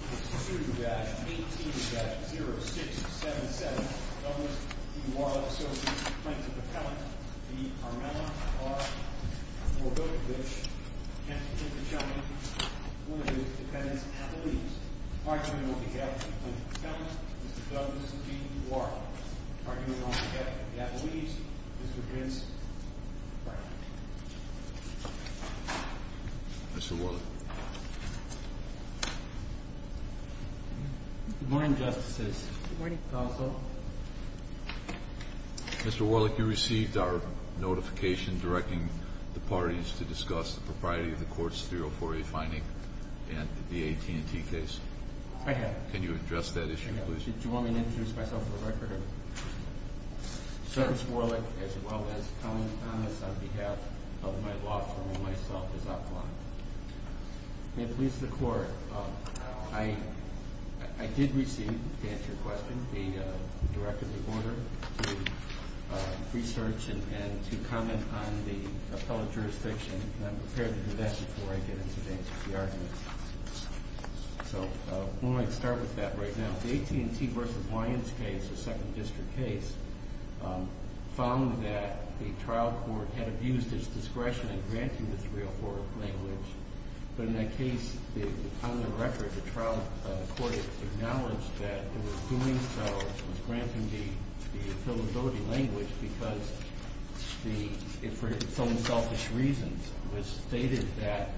18-0677 Douglas v. Warlick, Associates, Plaintiff-Appellant, v. Carmella, R. Mordkovich, Henson v. Buchanan, Williams v. Dependents, Appellees. Arguing on behalf of the Plaintiff-Appellants, Mr. Douglas v. Warlick. Arguing on behalf of the Appellees, Mr. Vince Brackett. Mr. Warlick. Good morning, Justices. Good morning. Mr. Warlick, you received our notification directing the parties to discuss the propriety of the court's 304A fining and the AT&T case. I have. Can you address that issue, please? I have. Do you want me to introduce myself for the record? Yes. I'm Chris Warlick, as well as Colin Thomas, on behalf of my law firm and myself, as outlined. May it please the Court, I did receive, to answer your question, a directive of order to research and to comment on the appellate jurisdiction, and I'm prepared to do that before I get into the arguments. So, we might start with that right now. The AT&T v. Lyons case, the second district case, found that the trial court had abused its discretion in granting the 304 language, but in that case, on the record, the trial court acknowledged that it was doing so, it was granting the appellate voting language because, for its own selfish reasons, it was stated that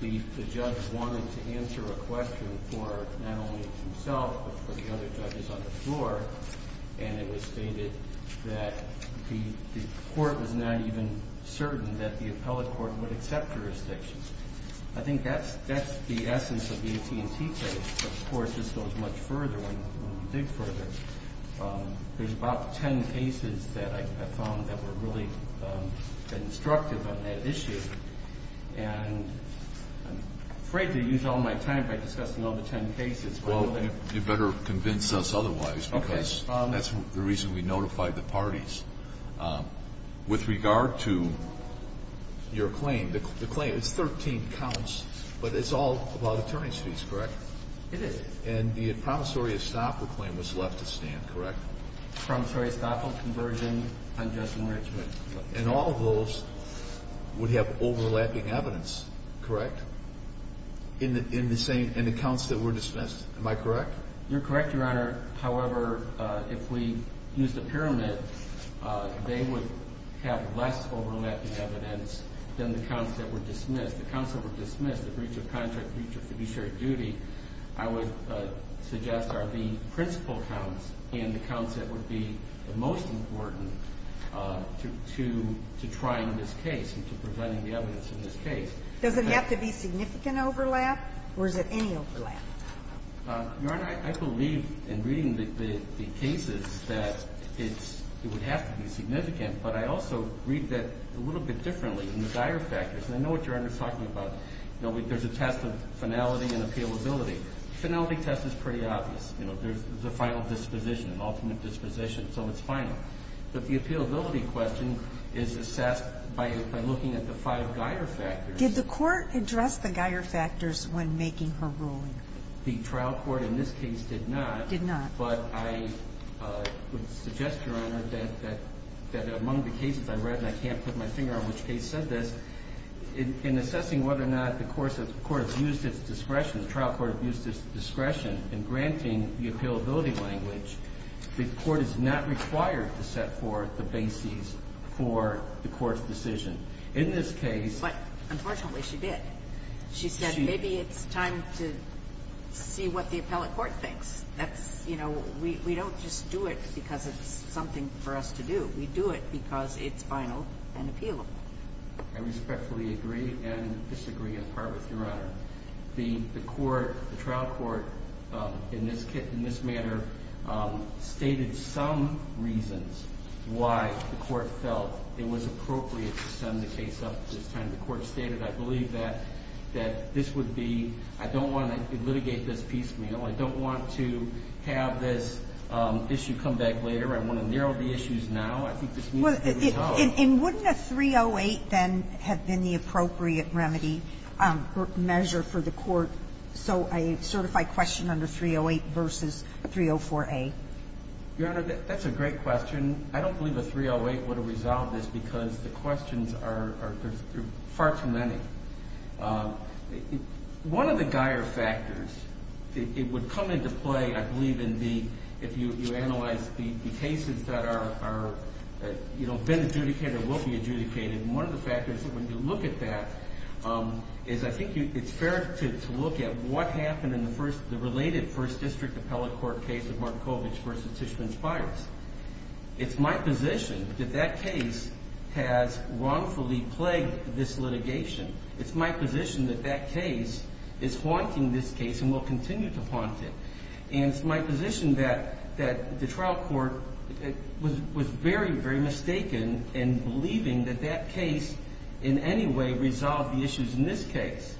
the judge wanted to answer a question for not only himself, but for the other judges on the floor, and it was stated that the court was not even certain that the appellate court would accept jurisdiction. I think that's the essence of the AT&T case. Of course, this goes much further when you dig further. There's about 10 cases that I found that were really instructive on that issue, and I'm afraid to use all my time by discussing all the 10 cases. Well, you better convince us otherwise, because that's the reason we notified the parties. And it's been a little bit of a long process. With regard to your claim, the claim is 13 counts, but it's all about attorney's fees, correct? It is. And the promissory estoppel claim was left at stand, correct? Promissory estoppel, conversion, unjust enrichment. And all of those would have overlapping evidence, correct, in the same – in the counts that were dismissed. Am I correct? You're correct, Your Honor. However, if we use the pyramid, they would have less overlapping evidence than the counts that were dismissed. The counts that were dismissed, the breach of contract, breach of fiduciary duty, I would suggest are the principal counts and the counts that would be the most important to trying this case and to presenting the evidence in this case. Does it have to be significant overlap, or is it any overlap? Your Honor, I believe in reading the cases that it's – it would have to be significant, but I also read that a little bit differently in the Geier factors. And I know what Your Honor is talking about. You know, there's a test of finality and appealability. Finality test is pretty obvious. You know, there's a final disposition, an ultimate disposition, so it's final. But the appealability question is assessed by looking at the five Geier factors. Did the Court address the Geier factors when making her ruling? The trial court in this case did not. Did not. But I would suggest, Your Honor, that among the cases I read, and I can't put my finger on which case said this, in assessing whether or not the court has used its discretion, the trial court used its discretion in granting the appealability language, the Court is not required to set forth the bases for the Court's decision. In this case – But unfortunately, she did. She said maybe it's time to see what the appellate court thinks. That's – you know, we don't just do it because it's something for us to do. We do it because it's final and appealable. I respectfully agree and disagree in part with Your Honor. The court, the trial court, in this manner, stated some reasons why the court felt it was appropriate to send the case up at this time. The court stated, I believe, that this would be – I don't want to litigate this piecemeal. I don't want to have this issue come back later. I want to narrow the issues now. I think this needs to be resolved. And wouldn't a 308 then have been the appropriate remedy measure for the court? So a certified question under 308 versus 304A? Your Honor, that's a great question. I don't believe a 308 would have resolved this because the questions are far too many. One of the Geier factors, it would come into play, I believe, in the – if you analyze the cases that are, you know, been adjudicated or will be adjudicated, one of the factors when you look at that is I think it's fair to look at what happened in the first – the related first district appellate court case of Markovitch versus Tishman Spires. It's my position that that case has wrongfully plagued this litigation. It's my position that that case is haunting this case and will continue to haunt it. And it's my position that the trial court was very, very mistaken in believing that that case in any way resolved the issues in this case.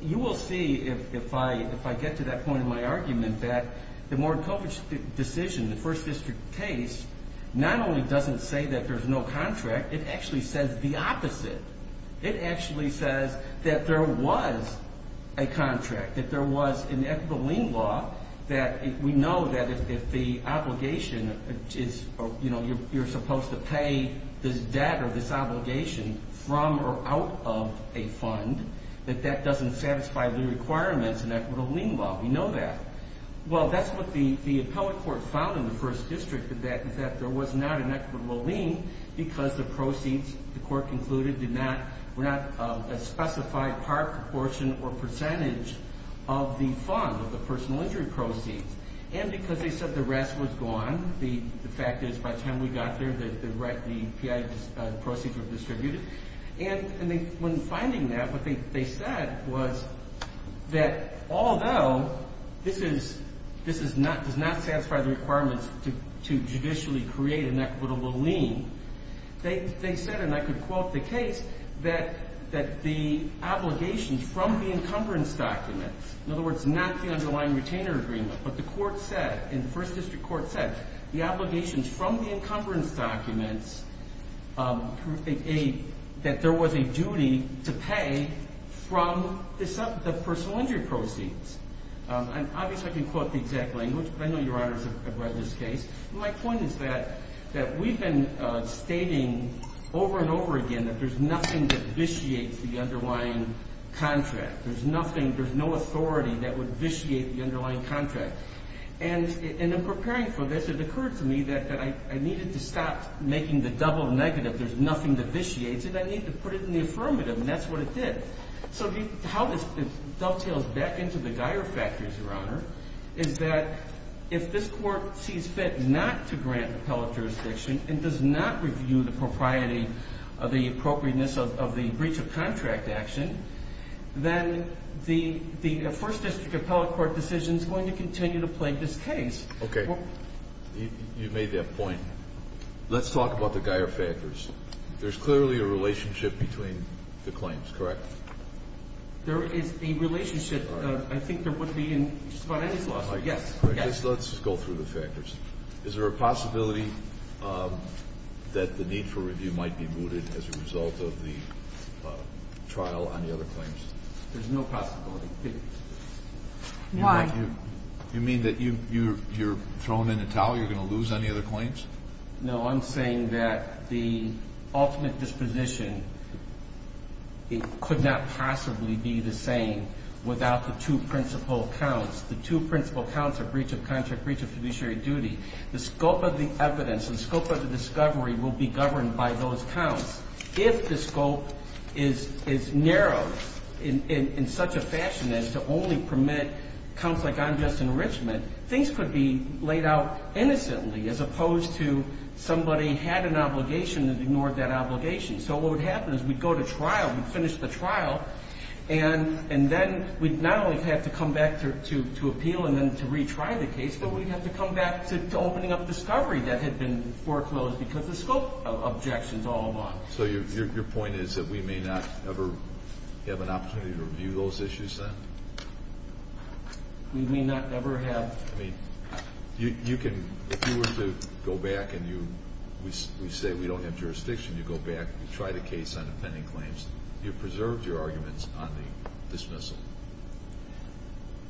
You will see if I get to that point in my argument that the Markovitch decision, the first district case, not only doesn't say that there's no contract, it actually says the opposite. It actually says that there was a contract, that there was an equitable lien law, that we know that if the obligation is, you know, you're supposed to pay this debt or this obligation from or out of a fund, that that doesn't satisfy the requirements in equitable lien law. We know that. Well, that's what the appellate court found in the first district, that there was not an equitable lien because the proceeds, the court concluded, were not a specified part, proportion, or percentage of the fund, of the personal injury proceeds. And because they said the rest was gone, the fact is by the time we got there, the proceeds were distributed. And when finding that, what they said was that although this does not satisfy the requirements to judicially create an equitable lien, they said, and I could quote the case, that the obligations from the encumbrance documents, in other words, not the underlying retainer agreement, but the court said, and the first district court said, the obligations from the encumbrance documents, that there was a duty to pay from the personal injury proceeds. Obviously, I can quote the exact language, but I know Your Honors have read this case. My point is that we've been stating over and over again that there's nothing that vitiates the underlying contract. There's nothing, there's no authority that would vitiate the underlying contract. And in preparing for this, it occurred to me that I needed to stop making the double negative, there's nothing that vitiates, and I need to put it in the affirmative, and that's what it did. So how this dovetails back into the Geier factors, Your Honor, is that if this court sees fit not to grant appellate jurisdiction and does not review the propriety of the appropriateness of the breach of contract action, then the first district appellate court decision is going to continue to plague this case. Okay. You made that point. Let's talk about the Geier factors. There's clearly a relationship between the claims, correct? There is a relationship. I think there would be in just about any lawsuit, yes. Let's go through the factors. Is there a possibility that the need for review might be rooted as a result of the trial on the other claims? There's no possibility. Why? You mean that you're thrown in a towel, you're going to lose on the other claims? No, I'm saying that the ultimate disposition, it could not possibly be the same without the two principal counts. The two principal counts are breach of contract, breach of fiduciary duty. The scope of the evidence, the scope of the discovery will be governed by those counts. If the scope is narrowed in such a fashion as to only permit counts like unjust enrichment, things could be laid out innocently as opposed to somebody had an obligation and ignored that obligation. So what would happen is we'd go to trial, we'd finish the trial, and then we'd not only have to come back to appeal and then to retry the case, but we'd have to come back to opening up discovery that had been foreclosed because the scope of objections all along. So your point is that we may not ever have an opportunity to review those issues then? We may not ever have. If you were to go back and you say we don't have jurisdiction, you go back and you try the case on the pending claims, you've preserved your arguments on the dismissal.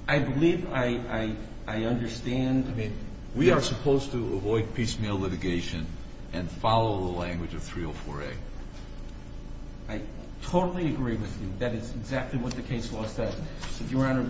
I believe I understand. We are supposed to avoid piecemeal litigation and follow the language of 304A. I totally agree with you. That is exactly what the case law says. Your Honor,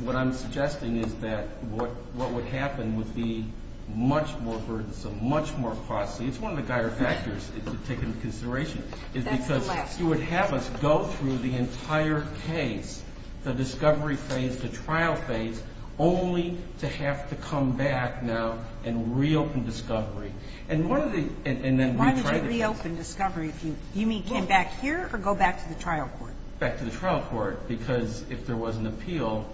what I'm suggesting is that what would happen would be much more burdensome, much more costly. It's one of the dire factors to take into consideration. That's the last one. It's because you would have us go through the entire case, the discovery phase, the trial phase, only to have to come back now and reopen discovery. Why did you reopen discovery? Do you mean come back here or go back to the trial court? Back to the trial court because if there was an appeal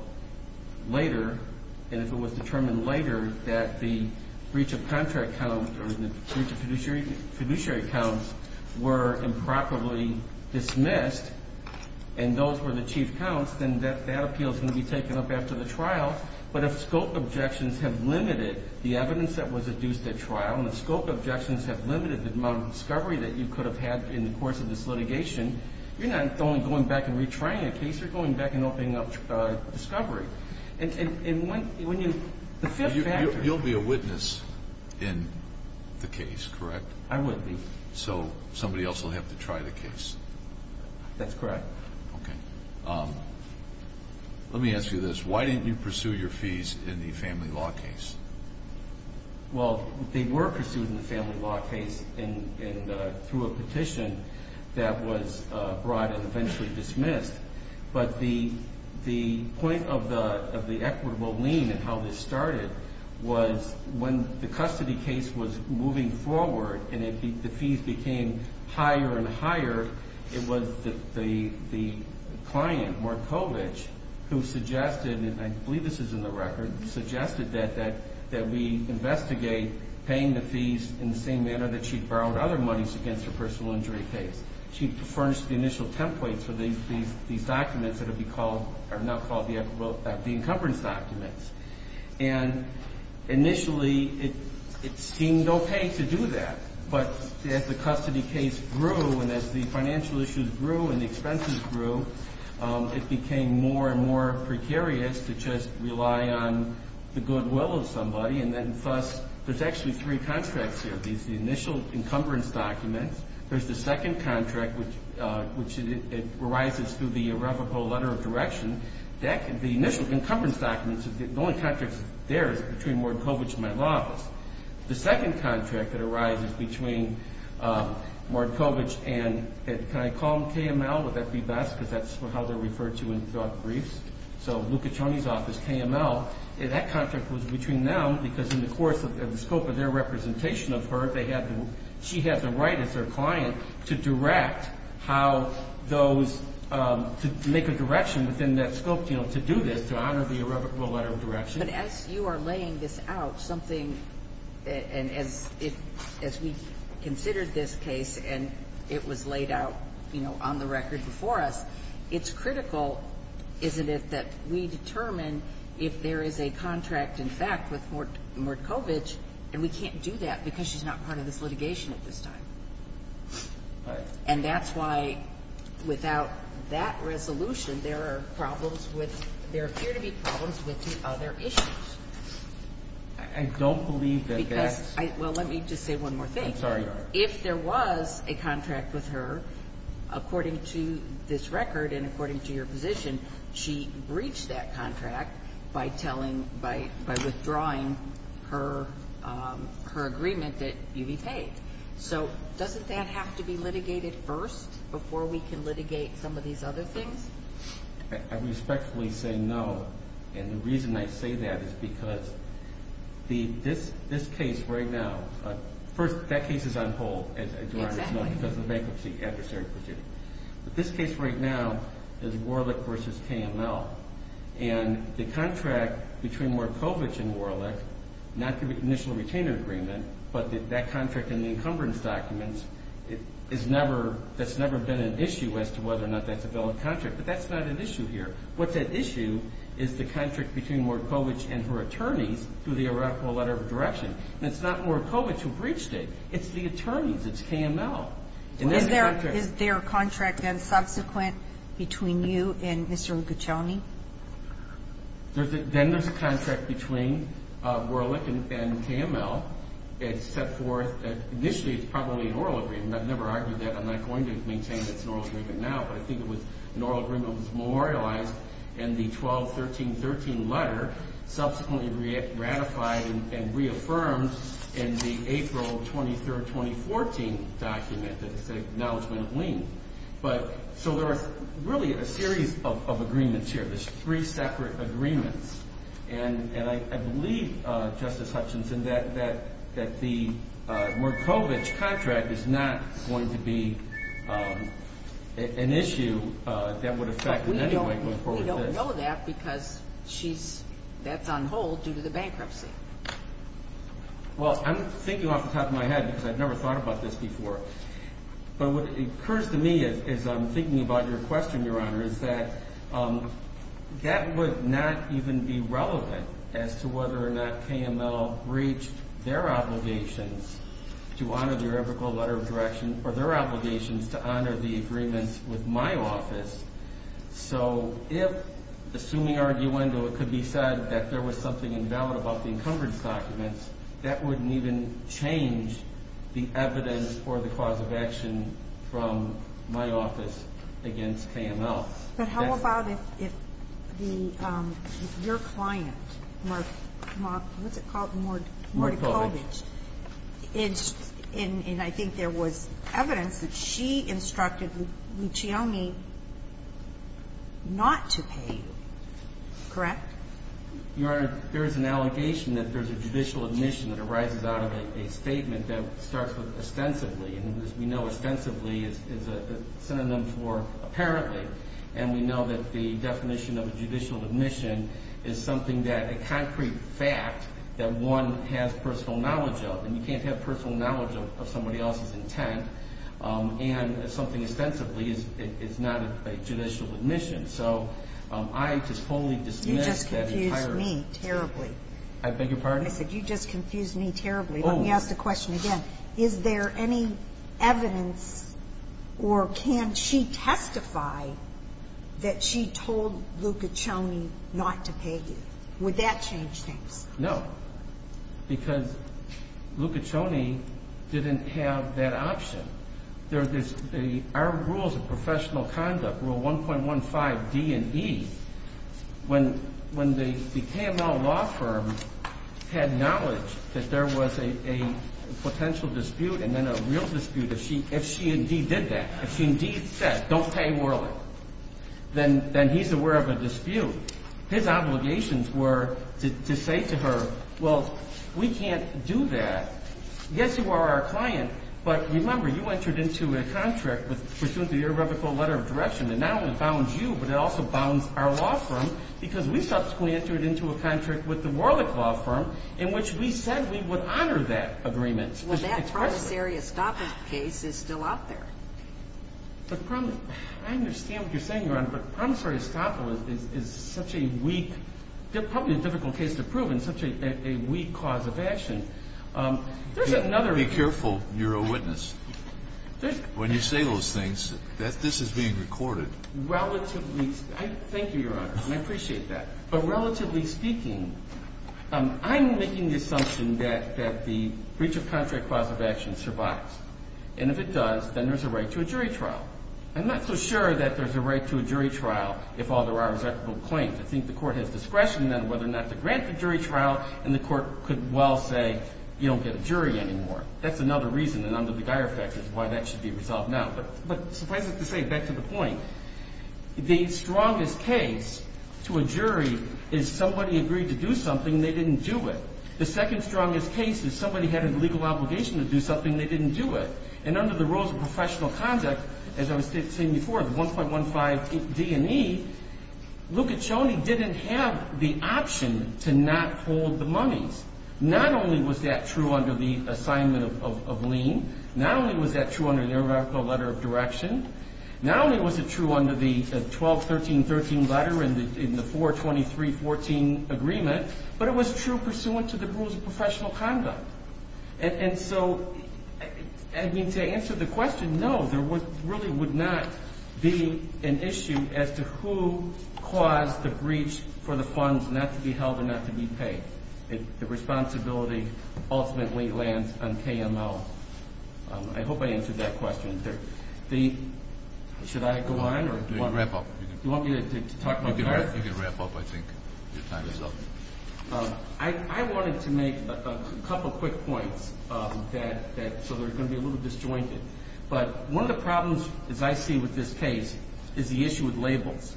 later and if it was determined later that the breach of contract count or the breach of fiduciary counts were improperly dismissed and those were the chief counts, then that appeal is going to be taken up after the trial. But if scope objections have limited the evidence that was adduced at trial and if scope objections have limited the amount of discovery that you could have had in the course of this litigation, you're not only going back and retrying a case, you're going back and opening up discovery. The fifth factor. You'll be a witness in the case, correct? I would be. So somebody else will have to try the case. That's correct. Okay. Let me ask you this. Why didn't you pursue your fees in the family law case? Well, they were pursued in the family law case through a petition that was brought and eventually dismissed. But the point of the equitable lien and how this started was when the custody case was moving forward and the fees became higher and higher, it was the client, Markovitch, who suggested, and I believe this is in the record, suggested that we investigate paying the fees in the same manner that she'd borrowed other monies against her personal injury case. She furnished the initial templates for these documents that would be called or now called the encumbrance documents. And initially, it seemed okay to do that. But as the custody case grew and as the financial issues grew and the expenses grew, it became more and more precarious to just rely on the goodwill of somebody. And then, thus, there's actually three contracts here. There's the initial encumbrance documents. There's the second contract, which arises through the irrevocable letter of direction. The initial encumbrance documents, the only contract there is between Markovitch and my law office. The second contract that arises between Markovitch and can I call him KML? Would that be best because that's how they're referred to in the briefs? So Luca Cioni's office, KML, that contract was between them because in the course of the scope of their representation of her, she had the right as their client to direct how those, to make a direction within that scope, to do this, to honor the irrevocable letter of direction. But as you are laying this out, something, and as we considered this case and it was laid out, you know, on the record before us, it's critical, isn't it, that we determine if there is a contract in fact with Markovitch and we can't do that because she's not part of this litigation at this time. Right. And that's why without that resolution, there are problems with, there appear to be problems with the other issues. I don't believe that that's. I'm sorry. If there was a contract with her, according to this record and according to your position, she breached that contract by telling, by withdrawing her agreement that you be paid. So doesn't that have to be litigated first before we can litigate some of these other things? I respectfully say no, and the reason I say that is because this case right now, first, that case is on hold because of the bankruptcy adversary procedure. But this case right now is Warlick v. KML. And the contract between Markovitch and Warlick, not the initial retainer agreement, but that contract in the encumbrance documents, that's never been an issue as to whether or not that's a valid contract. But that's not an issue here. What's at issue is the contract between Markovitch and her attorneys through the irrevocable letter of direction. And it's not Markovitch who breached it. It's the attorneys. It's KML. Is there a contract, then, subsequent between you and Mr. Liguccioni? Then there's a contract between Warlick and KML. It's set forth that initially it's probably an oral agreement. I've never argued that. I'm not going to maintain it's an oral agreement now. But I think it was an oral agreement that was memorialized in the 12-13-13 letter, subsequently ratified and reaffirmed in the April 23, 2014 document, the acknowledgment of lien. So there are really a series of agreements here. There's three separate agreements. And I believe, Justice Hutchinson, that the Markovitch contract is not going to be an issue that would affect in any way going forward with this. I know that because that's on hold due to the bankruptcy. Well, I'm thinking off the top of my head because I've never thought about this before. But what occurs to me as I'm thinking about your question, Your Honor, is that that would not even be relevant as to whether or not KML breached their obligations to honor the irrevocable letter of direction or their obligations to honor the agreements with my office. So if, assuming arguendo, it could be said that there was something invalid about the encumbrance documents, that wouldn't even change the evidence for the cause of action from my office against KML. But how about if your client, Markovitch, and I think there was evidence that she instructed Luccioni not to pay, correct? Your Honor, there is an allegation that there's a judicial admission that arises out of a statement that starts with ostensibly, and as we know, ostensibly is a synonym for apparently. And we know that the definition of a judicial admission is something that a concrete fact that one has personal knowledge of. And you can't have personal knowledge of somebody else's intent. And something ostensibly is not a judicial admission. So I just fully dismiss that entire. You just confused me terribly. I beg your pardon? I said you just confused me terribly. Let me ask the question again. Is there any evidence or can she testify that she told Luccioni not to pay you? Would that change things? No. Because Luccioni didn't have that option. There are rules of professional conduct, Rule 1.15D and E. When the KML law firm had knowledge that there was a potential dispute and then a real dispute if she indeed did that, if she indeed said, Well, we can't do that. Yes, you are our client. But remember, you entered into a contract with pursuant to your revocable letter of direction that not only bounds you, but it also bounds our law firm because we subsequently entered into a contract with the Warlick Law Firm in which we said we would honor that agreement. Well, that promissory estoppel case is still out there. I understand what you're saying, Your Honor, but promissory estoppel is still such a weak, probably a difficult case to prove and such a weak cause of action. Be careful. You're a witness. When you say those things, this is being recorded. Thank you, Your Honor, and I appreciate that. But relatively speaking, I'm making the assumption that the breach of contract cause of action survives. And if it does, then there's a right to a jury trial. I'm not so sure that there's a right to a jury trial if all there are is equitable claims. I think the court has discretion then whether or not to grant the jury trial, and the court could well say you don't get a jury anymore. That's another reason, and under the Geier effect is why that should be resolved now. But suffice it to say, back to the point, the strongest case to a jury is somebody agreed to do something and they didn't do it. The second strongest case is somebody had a legal obligation to do something and they didn't do it. And under the rules of professional conduct, as I was saying before, the 1.15 D&E, Luca Cioni didn't have the option to not hold the monies. Not only was that true under the assignment of lien, not only was that true under the numerical letter of direction, not only was it true under the 12-13-13 letter in the 4-23-14 agreement, but it was true pursuant to the rules of professional conduct. And so, I mean, to answer the question, no, there really would not be an issue as to who caused the breach for the funds not to be held and not to be paid. The responsibility ultimately lands on KML. I hope I answered that question. Should I go on? You can wrap up. You want me to talk about the court? You can wrap up, I think. Your time is up. I wanted to make a couple of quick points so they're going to be a little disjointed. But one of the problems, as I see with this case, is the issue with labels.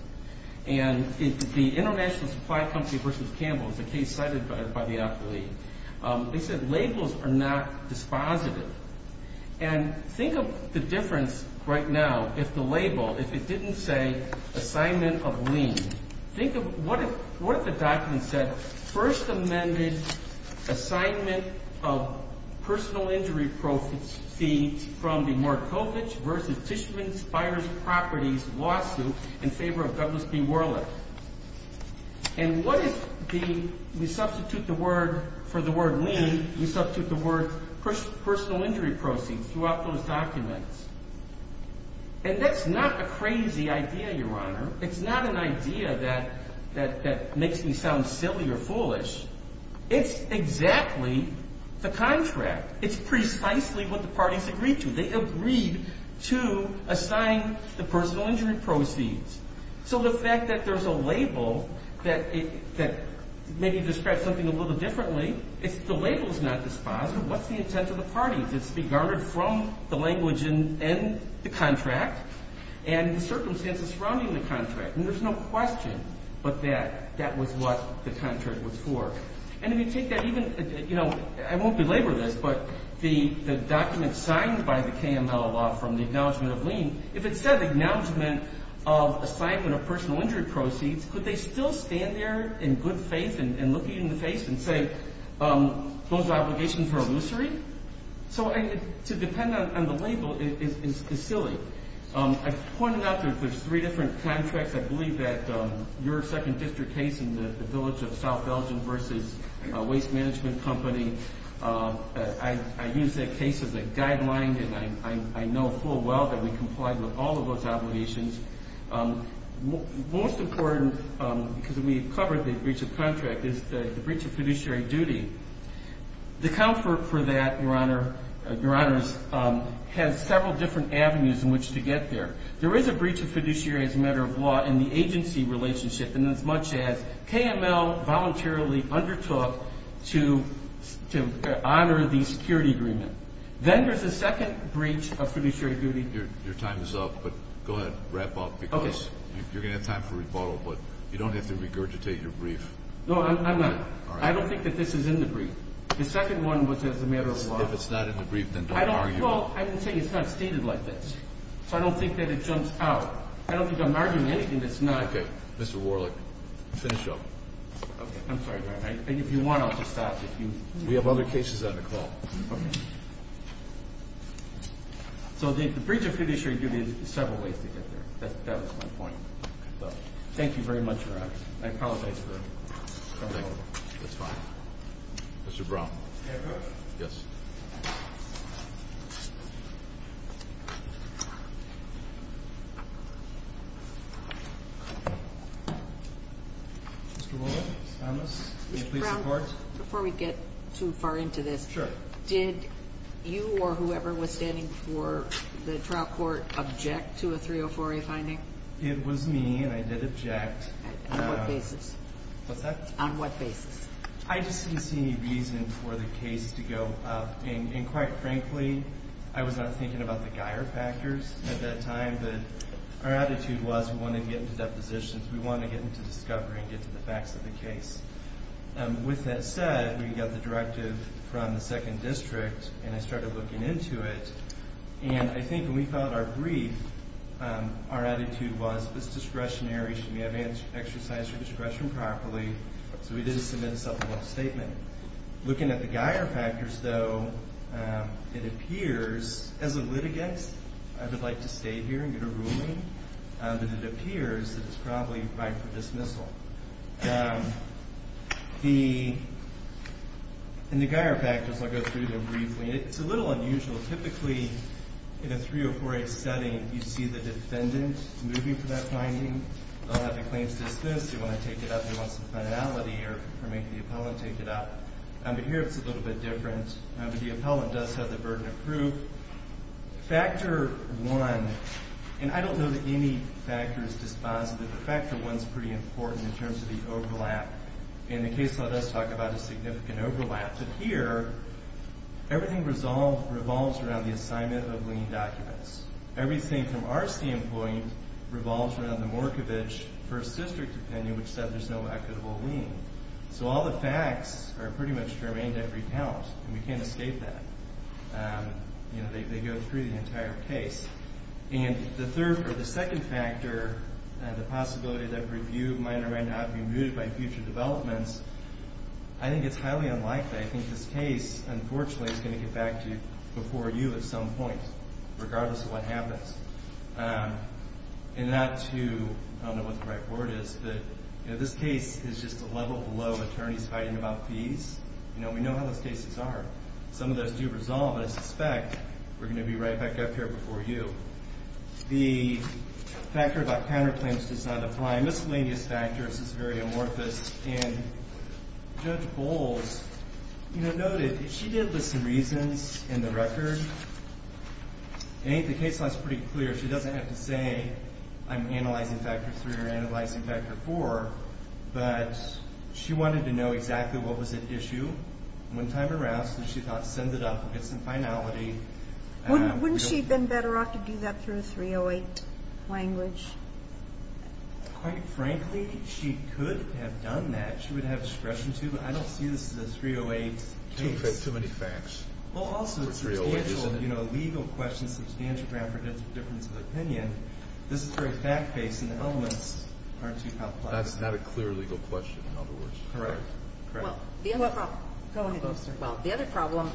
And the International Supply Company v. Campbell is a case cited by the affiliate. They said labels are not dispositive. And think of the difference right now if the label, if it didn't say assignment of lien. Think of what if the document said first amended assignment of personal injury proceeds from the Markovich v. Tishman Spires Properties lawsuit in favor of Douglas B. Worley. And what if we substitute the word, for the word lien, we substitute the word personal injury proceeds throughout those documents? And that's not a crazy idea, Your Honor. It's not an idea that makes me sound silly or foolish. It's exactly the contract. It's precisely what the parties agreed to. They agreed to assign the personal injury proceeds. So the fact that there's a label that maybe describes something a little differently, if the label is not dispositive, what's the intent of the parties? It's regarded from the language in the contract and the circumstances surrounding the contract. And there's no question but that that was what the contract was for. And if you take that even, you know, I won't belabor this, but the document signed by the KML law from the acknowledgement of lien, if it said acknowledgement of assignment of personal injury proceeds, could they still stand there in good faith and look you in the face and say those obligations were illusory? So to depend on the label is silly. I pointed out that there's three different contracts. I believe that your second district case in the village of South Belgium versus a waste management company, I used that case as a guideline, and I know full well that we complied with all of those obligations. Most important, because we covered the breach of contract, is the breach of fiduciary duty. The comfort for that, Your Honor, has several different avenues in which to get there. There is a breach of fiduciary as a matter of law in the agency relationship, and as much as KML voluntarily undertook to honor the security agreement. Then there's a second breach of fiduciary duty. Your time is up, but go ahead, wrap up, because you're going to have time for rebuttal, but you don't have to regurgitate your brief. No, I'm not. I don't think that this is in the brief. The second one was as a matter of law. If it's not in the brief, then don't argue. I didn't say it's not stated like this, so I don't think that it jumps out. I don't think I'm arguing anything that's not. Okay. Mr. Warlick, finish up. Okay. I'm sorry, Your Honor. If you want, I'll just stop. We have other cases on the call. So the breach of fiduciary duty has several ways to get there. That was my point. Thank you very much, Your Honor. I apologize. That's fine. Mr. Brown. Yes. Mr. Brown, before we get too far into this, did you or whoever was standing for the trial court object to a 304A finding? It was me, and I did object. On what basis? What's that? On what basis? I just didn't see any reason for the case to go up. And quite frankly, I was not thinking about the Geier factors at that time, but our attitude was we wanted to get into depositions. We wanted to get into discovery and get to the facts of the case. With that said, we got the directive from the Second District, and I started looking into it. And I think when we filed our brief, our attitude was, well, if it's discretionary, should we exercise your discretion properly? So we did submit a supplemental statement. Looking at the Geier factors, though, it appears, as a litigant, I would like to state here and get a ruling, that it appears that it's probably right for dismissal. In the Geier factors, I'll go through them briefly. It's a little unusual. Typically, in a 304A setting, you see the defendant moving for that finding. They'll have the claims just this. They want to take it up. They want some finality or make the appellant take it up. But here it's a little bit different. The appellant does have the burden of proof. Factor one, and I don't know that any factor is dispositive, but factor one is pretty important in terms of the overlap. And the case law does talk about a significant overlap. But here, everything revolves around the assignment of lien documents. Everything from our standpoint revolves around the Morkovich First District opinion, which said there's no equitable lien. So all the facts are pretty much germane to every count, and we can't escape that. You know, they go through the entire case. And the third or the second factor, the possibility that review might or might not be mooted by future developments, I think it's highly unlikely. I think this case, unfortunately, is going to get back to before you at some point, regardless of what happens. And not to, I don't know what the right word is, but this case is just a level below attorneys fighting about fees. You know, we know how those cases are. Some of those do resolve, and I suspect we're going to be right back up here before you. The factor about counterclaims does not apply. Miscellaneous factors is very amorphous, and Judge Bowles noted she did list some reasons in the record. The case law is pretty clear. She doesn't have to say I'm analyzing factor three or analyzing factor four, but she wanted to know exactly what was at issue. One time around, she thought, send it up, get some finality. Wouldn't she have been better off to do that through a 308 language? Quite frankly, she could have done that. She would have discretion to, but I don't see this as a 308 case. Too many facts for 308, isn't it? Well, also, it's a substantial, you know, legal question, substantial ground for difference of opinion. This is very fact-based, and the elements aren't too complicated. That's not a clear legal question, in other words. Correct. Go ahead. Well, the other problem,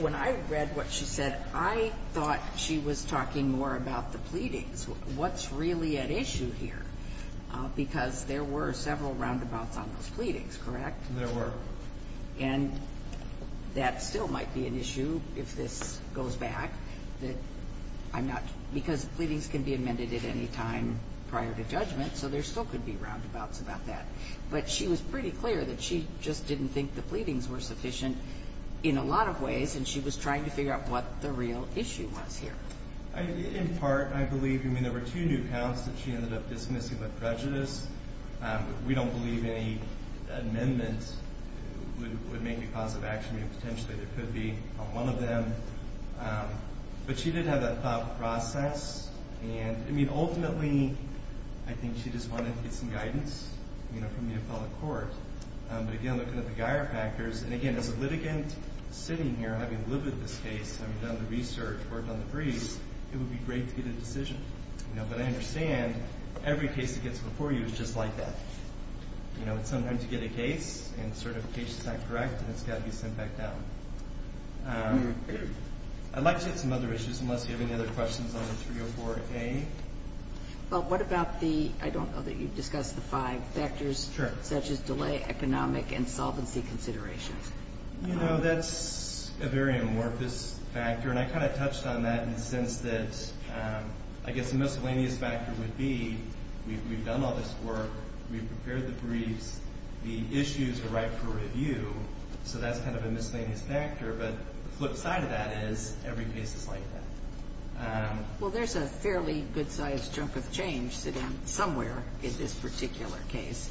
when I read what she said, I thought she was talking more about the pleadings. What's really at issue here? Because there were several roundabouts on those pleadings, correct? There were. And that still might be an issue if this goes back. I'm not – because pleadings can be amended at any time prior to judgment, so there still could be roundabouts about that. But she was pretty clear that she just didn't think the pleadings were sufficient in a lot of ways, and she was trying to figure out what the real issue was here. In part, I believe, I mean, there were two new counts that she ended up dismissing with prejudice. We don't believe any amendment would make a cause of action. Potentially, there could be one of them. But she did have that thought process. And, I mean, ultimately, I think she just wanted to get some guidance, you know, from the appellate court. But, again, looking at the Geier factors, and, again, as a litigant sitting here, having lived with this case, having done the research, worked on the briefs, it would be great to get a decision. But I understand every case that gets before you is just like that. You know, sometimes you get a case, and the certification is not correct, and it's got to be sent back down. I'd like to get some other issues, unless you have any other questions on the 304A. Well, what about the – I don't know that you've discussed the five factors. Sure. Such as delay, economic, and solvency considerations. You know, that's a very amorphous factor. And I kind of touched on that in the sense that, I guess, the miscellaneous factor would be we've done all this work, we've prepared the briefs, the issues are ripe for review. So that's kind of a miscellaneous factor. But the flip side of that is every case is like that. Well, there's a fairly good-sized chunk of change sitting somewhere in this particular case.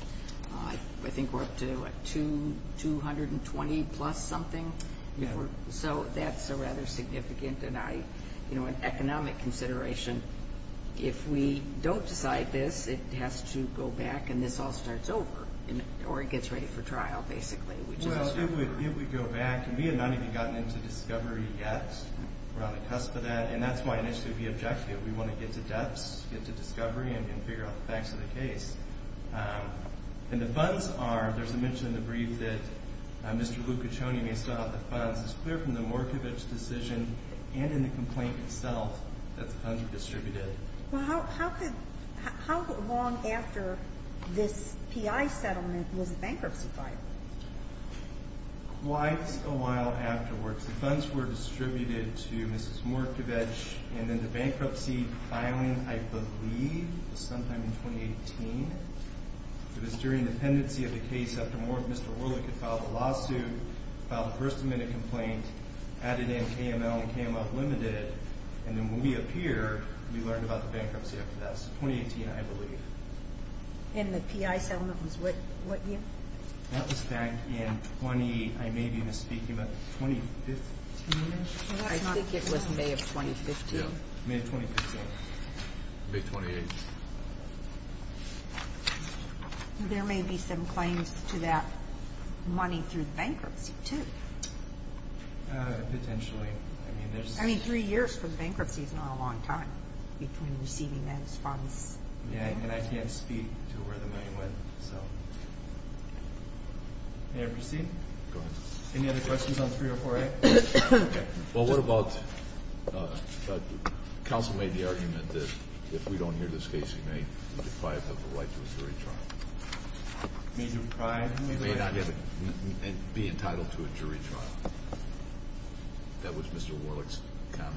I think we're up to, what, 220-plus something? Yeah. So that's a rather significant economic consideration. If we don't decide this, it has to go back and this all starts over, or it gets ready for trial, basically. Well, if we go back, and we have not even gotten into discovery yet. We're on the cusp of that. And that's why initially we objected. We want to get to depths, get to discovery, and then figure out the facts of the case. And the funds are, there's a mention in the brief that Mr. Lucaccioni may still have the funds. It's clear from the Morkovich decision and in the complaint itself that the funds were distributed. Well, how long after this PI settlement was the bankruptcy filed? Quite a while afterwards. The funds were distributed to Mrs. Morkovich, and then the bankruptcy filing, I believe, was sometime in 2018. It was during the pendency of the case after Mr. Orlick had filed a lawsuit, filed a first-amendment complaint, added in KML and KML limited. And then when we appeared, we learned about the bankruptcy after that. So 2018, I believe. And the PI settlement was what year? That was back in 20, I may be misspeaking, but 2015-ish? I think it was May of 2015. May of 2015. May 28th. There may be some claims to that money through bankruptcy, too. Potentially. I mean, three years from bankruptcy is not a long time between receiving those funds. And I can't speak to where the money went. May I proceed? Go ahead. Any other questions on 304A? Well, what about counsel made the argument that if we don't hear this case, you may be deprived of the right to a jury trial? May be deprived? May not be entitled to a jury trial. That was Mr. Orlick's comment.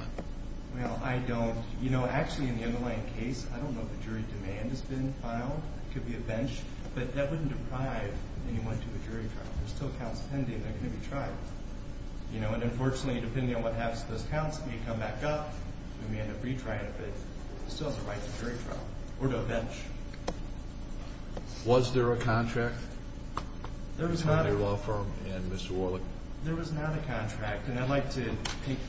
Well, I don't. You know, actually, in the underlying case, I don't know if a jury demand has been filed. It could be a bench. But that wouldn't deprive anyone to a jury trial. There's still counts pending that are going to be tried. You know, and unfortunately, depending on what happens to those counts, it may come back up and we end up retrying it. But it still has the right to a jury trial or to a bench. Was there a contract between your law firm and Mr. Orlick? There was not a contract. And I'd like to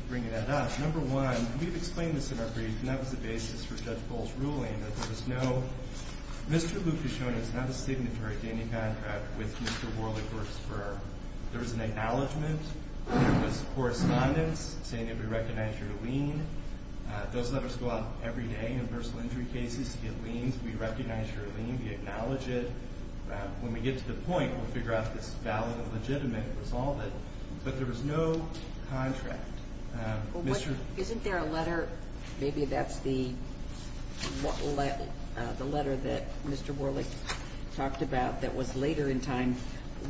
bring that up. Number one, we've explained this in our brief, and that was the basis for Judge Bull's ruling, that there was no – Mr. Lucucione is not a signatory to any contract with Mr. Orlick or his firm. There was an acknowledgment. There was correspondence saying that we recognize your lien. Those letters go out every day in personal injury cases to get liens. We recognize your lien. We acknowledge it. When we get to the point, we'll figure out if it's valid and legitimate and resolve it. But there was no contract. Isn't there a letter – maybe that's the letter that Mr. Orlick talked about that was later in time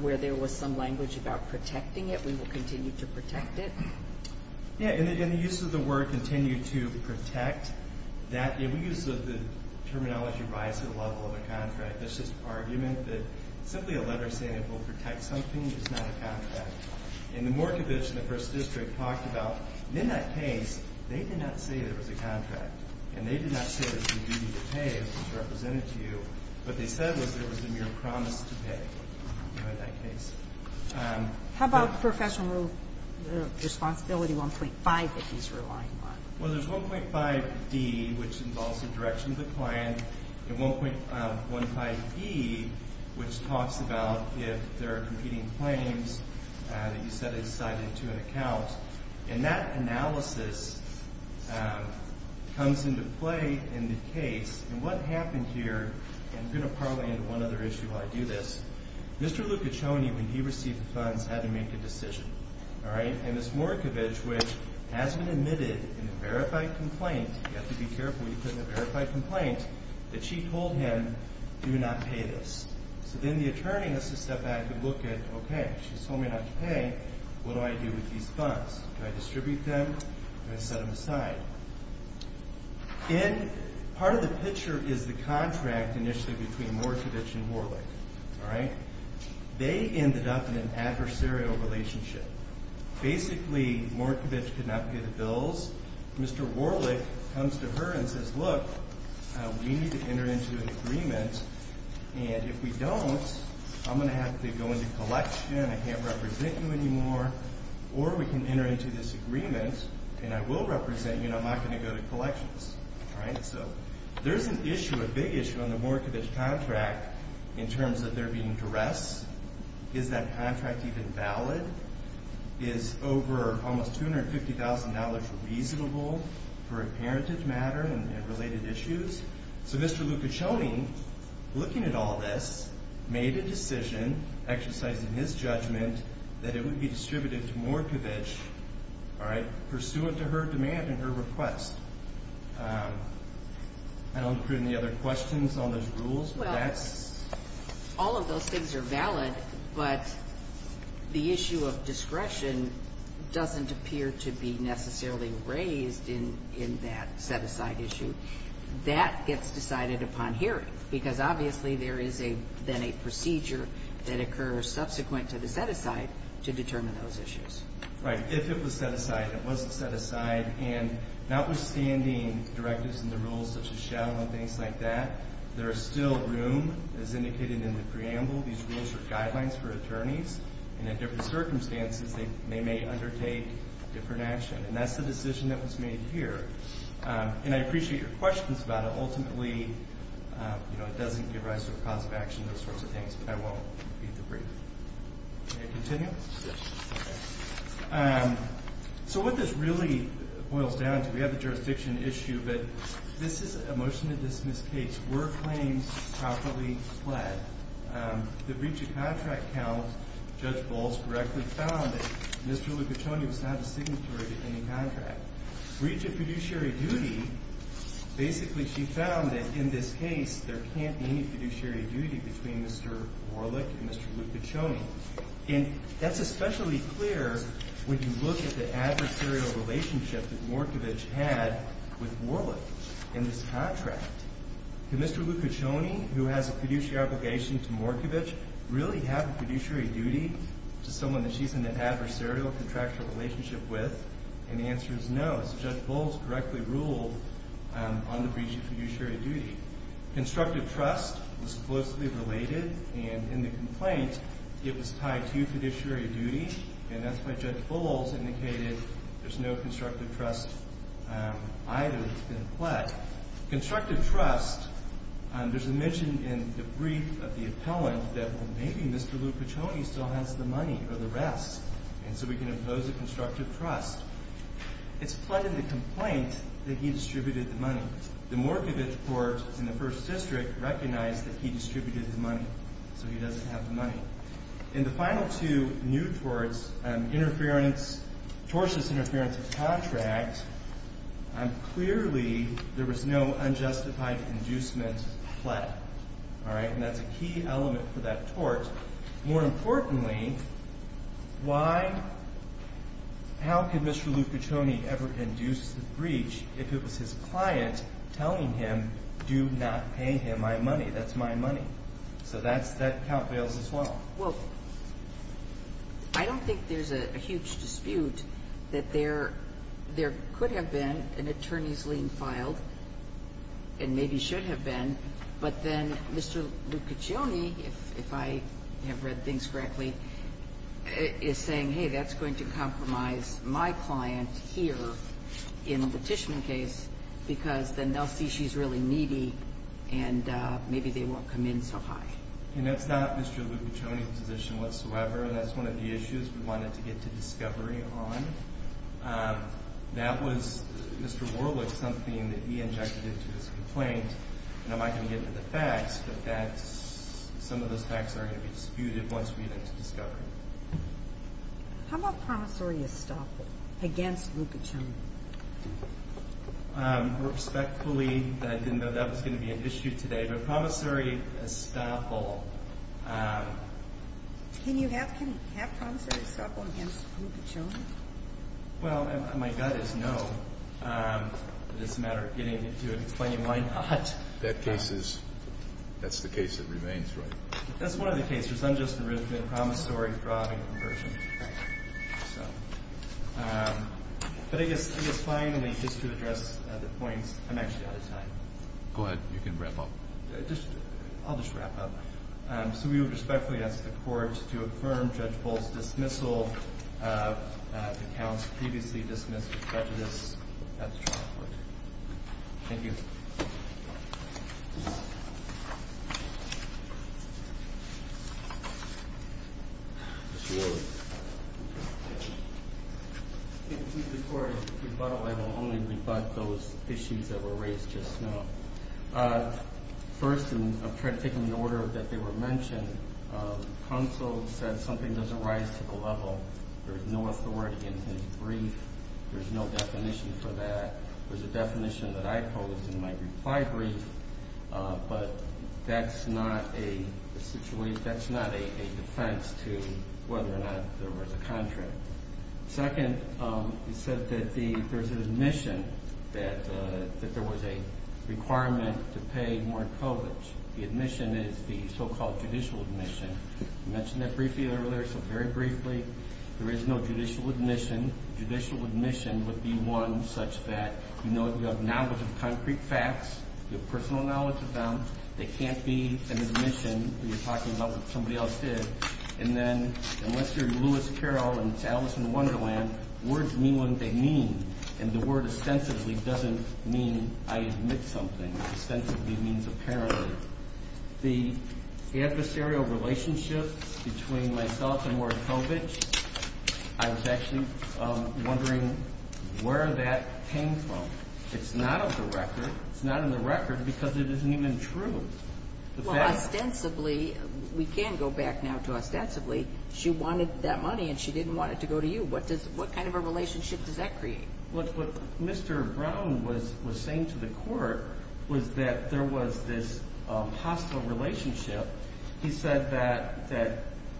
where there was some language about protecting it, we will continue to protect it? Yeah, and the use of the word continue to protect, that use of the terminology rise to the level of a contract, there's this argument that simply a letter saying it will protect something is not a contract. And the Morkovich in the First District talked about, in that case, they did not say there was a contract, and they did not say there was a duty to pay that was represented to you. What they said was there was a mere promise to pay in that case. How about professional responsibility 1.5 that he's relying on? Well, there's 1.5D, which involves the direction of the client, and 1.5E, which talks about if there are competing claims that you set aside into an account. And that analysis comes into play in the case. And what happened here – and I'm going to parlay into one other issue while I do this. Mr. Lucaccioni, when he received the funds, had to make a decision. All right? And this Morkovich, which has been admitted in a verified complaint – you have to be careful when you put in a verified complaint – that she told him, do not pay this. So then the attorney has to step back and look at, okay, she's told me not to pay. What do I do with these funds? Do I distribute them? Do I set them aside? Part of the picture is the contract initially between Morkovich and Warlick. All right? They ended up in an adversarial relationship. Basically, Morkovich could not pay the bills. Mr. Warlick comes to her and says, look, we need to enter into an agreement. And if we don't, I'm going to have to go into collection. I can't represent you anymore. Or we can enter into this agreement, and I will represent you, and I'm not going to go to collections. All right? So there's an issue, a big issue, on the Morkovich contract in terms of there being duress. Is that contract even valid? Is over almost $250,000 reasonable for a parentage matter and related issues? So Mr. Lukashoni, looking at all this, made a decision, exercising his judgment, that it would be distributed to Morkovich, all right, pursuant to her demand and her request. I don't have any other questions on those rules. Well, all of those things are valid, but the issue of discretion doesn't appear to be necessarily raised in that set-aside issue. That gets decided upon hearing because, obviously, there is then a procedure that occurs subsequent to the set-aside to determine those issues. Right. If it was set-aside and it wasn't set-aside, and notwithstanding directives and the rules such as shall and things like that, there is still room, as indicated in the preamble, these rules are guidelines for attorneys, and in different circumstances they may undertake different action. And that's the decision that was made here. And I appreciate your questions about it. Ultimately, you know, it doesn't give rise to a cause of action, those sorts of things, but I won't repeat the brief. May I continue? Yes. Okay. So what this really boils down to, we have the jurisdiction issue, but this is a motion-to-dismiss case. Were claims properly fled? The breach of contract count, Judge Bowles correctly found that Mr. Lucacioni was not a signatory to any contract. Breach of fiduciary duty, basically she found that, in this case, there can't be any fiduciary duty between Mr. Warlick and Mr. Lucacioni. And that's especially clear when you look at the adversarial relationship that Morkovich had with Warlick in this contract. Did Mr. Lucacioni, who has a fiduciary obligation to Morkovich, really have a fiduciary duty to someone that she's in an adversarial contractual relationship with? And the answer is no. So Judge Bowles correctly ruled on the breach of fiduciary duty. Constructive trust was closely related, and in the complaint, it was tied to fiduciary duty, and that's why Judge Bowles indicated there's no constructive trust either that's been fled. Constructive trust, there's a mention in the brief of the appellant that maybe Mr. Lucacioni still has the money or the rest, and so we can impose a constructive trust. It's fled in the complaint that he distributed the money. The Morkovich court in the First District recognized that he distributed the money, so he doesn't have the money. In the final two new torts, tortuous interference of contract, clearly there was no unjustified inducement fled. All right? And that's a key element for that tort. More importantly, why – how could Mr. Lucacioni ever induce the breach if it was his client telling him, do not pay him my money, that's my money? So that's – that count bails as well. Well, I don't think there's a huge dispute that there could have been an attorney's lien filed, and maybe should have been, but then Mr. Lucacioni, if I have read things correctly, is saying, hey, that's going to compromise my client here in the Tishman case because then they'll see she's really needy and maybe they won't come in so high. And that's not Mr. Lucacioni's position whatsoever, and that's one of the issues we wanted to get to discovery on. That was, Mr. Warwick, something that he injected into his complaint, and I'm not going to get into the facts, but that's – some of those facts are going to be disputed once we get into discovery. How about promissory estoppel against Lucacioni? Respectfully, I didn't know that was going to be an issue today, but promissory estoppel. Can you have promissory estoppel against Lucacioni? Well, my gut is no. It's a matter of getting to it and explaining why not. That case is – that's the case that remains, right? That's one of the cases. I'm just arranging promissory fraud and conversion. But I guess finally, just to address the points, I'm actually out of time. Go ahead. You can wrap up. Just – I'll just wrap up. So we would respectfully ask the Court to affirm Judge Bolt's dismissal of accounts previously dismissed for prejudice at the trial court. Thank you. Mr. Warwick. I think the Court's rebuttal, I will only rebut those issues that were raised just now. First, I'm trying to take in the order that they were mentioned. Counsel said something doesn't rise to the level. There's no authority in his brief. There's no definition for that. There's a definition that I posed in my reply brief, but that's not a situation – that's not a defense to whether or not there was a contract. Second, you said that the – there's an admission that there was a requirement to pay more coverage. The admission is the so-called judicial admission. I mentioned that briefly earlier, so very briefly. There is no judicial admission. Judicial admission would be one such that you know you have knowledge of concrete facts. You have personal knowledge of them. They can't be an admission where you're talking about what somebody else did. And then unless you're Lewis Carroll and it's Alice in Wonderland, words mean what they mean. And the word ostensibly doesn't mean I admit something. Ostensibly means apparently. The adversarial relationship between myself and Markovitch, I was actually wondering where that came from. It's not on the record. It's not on the record because it isn't even true. Ostensibly, we can go back now to ostensibly, she wanted that money and she didn't want it to go to you. What kind of a relationship does that create? Look, what Mr. Brown was saying to the court was that there was this hostile relationship. He said that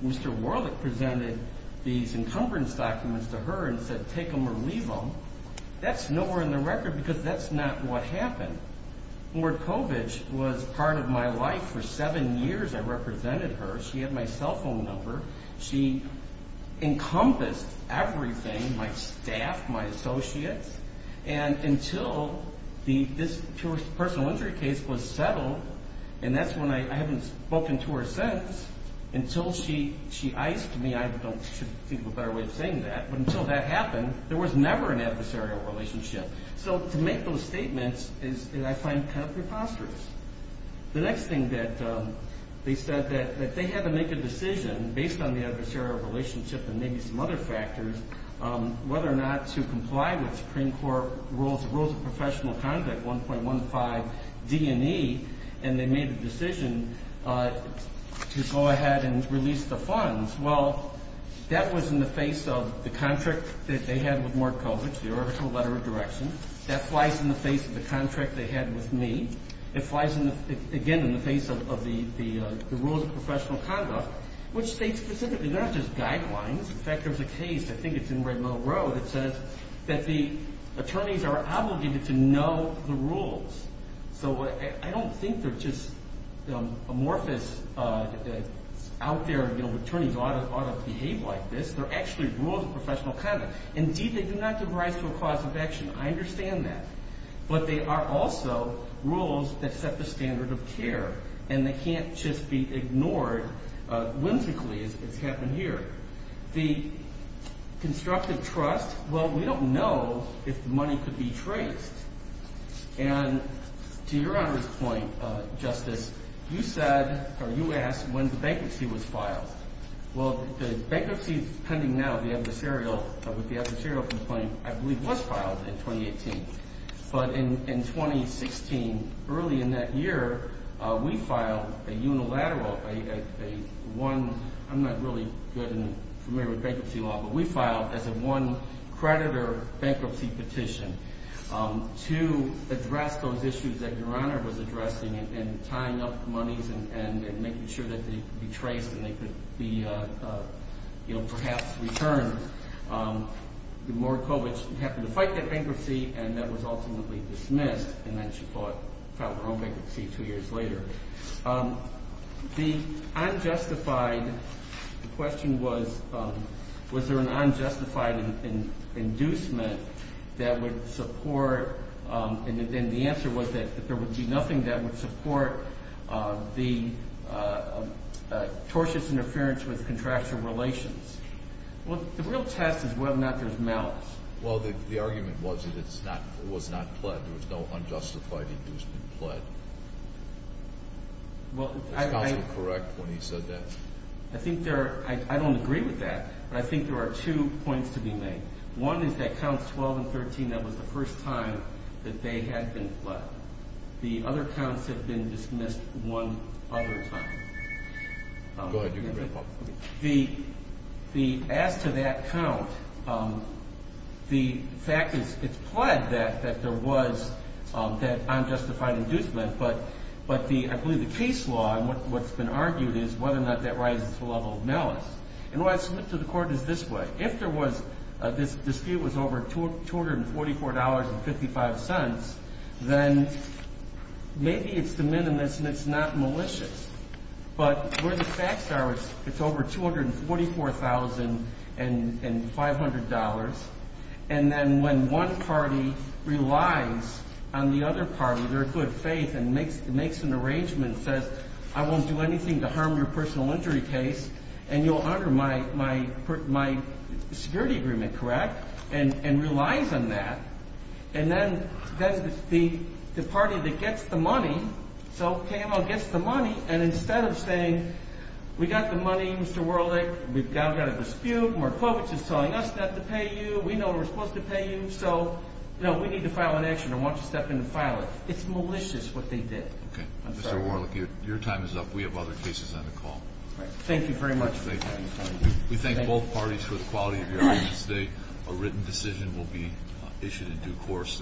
Mr. Warlick presented these encumbrance documents to her and said take them or leave them. That's nowhere in the record because that's not what happened. Markovitch was part of my life for seven years. I represented her. She had my cell phone number. She encompassed everything, my staff, my associates. And until this personal injury case was settled, and that's when I haven't spoken to her since, until she iced me. I don't think there's a better way of saying that. But until that happened, there was never an adversarial relationship. So to make those statements is, I find, kind of preposterous. The next thing that they said, that they had to make a decision based on the adversarial relationship and maybe some other factors, whether or not to comply with Supreme Court Rules of Professional Conduct 1.15 D&E, and they made a decision to go ahead and release the funds. Well, that was in the face of the contract that they had with Markovitch, the original letter of direction. That flies in the face of the contract they had with me. It flies, again, in the face of the Rules of Professional Conduct, which states specifically, they're not just guidelines. In fact, there's a case, I think it's in Red Mill Road, that says that the attorneys are obligated to know the rules. So I don't think they're just amorphous out there, you know, attorneys ought to behave like this. They're actually rules of professional conduct. Indeed, they do not give rise to a cause of action. I understand that. But they are also rules that set the standard of care, and they can't just be ignored whimsically, as has happened here. The constructive trust, well, we don't know if the money could be traced. And to Your Honor's point, Justice, you said, or you asked when the bankruptcy was filed. Well, the bankruptcy pending now with the adversarial complaint, I believe, was filed in 2018. But in 2016, early in that year, we filed a unilateral, a one, I'm not really good and familiar with bankruptcy law, but we filed as a one-creditor bankruptcy petition to address those issues that Your Honor was addressing and tying up the monies and making sure that they could be traced and they could be, you know, perhaps returned. Morakovich happened to fight that bankruptcy, and that was ultimately dismissed. And then she filed her own bankruptcy two years later. The unjustified, the question was, was there an unjustified inducement that would support, and the answer was that there would be nothing that would support the tortious interference with contractual relations. Well, the real test is whether or not there's malice. Well, the argument was that it was not pled. There was no unjustified inducement pled. Was counsel correct when he said that? I think there are, I don't agree with that, but I think there are two points to be made. One is that Counts 12 and 13, that was the first time that they had been pled. The other counts have been dismissed one other time. Go ahead. Do your grandpa. As to that count, the fact is it's pled that there was that unjustified inducement, but I believe the case law and what's been argued is whether or not that rises to the level of malice. And the way I submit to the Court is this way. If this dispute was over $244.55, then maybe it's de minimis and it's not malicious. But where the facts are, it's over $244,500. And then when one party relies on the other party, their good faith, and makes an arrangement, says, I won't do anything to harm your personal injury case, and you'll honor my security agreement, correct? And relies on that. And then the party that gets the money, so KMO gets the money, and instead of saying, we got the money, Mr. Warlick, we've got a dispute, Markovitch is telling us not to pay you, we know we're supposed to pay you, so, you know, we need to file an action. I want you to step in and file it. It's malicious what they did. Okay. Mr. Warlick, your time is up. We have other cases on the call. Thank you very much. We thank both parties for the quality of your evidence today. A written decision will be issued in due course.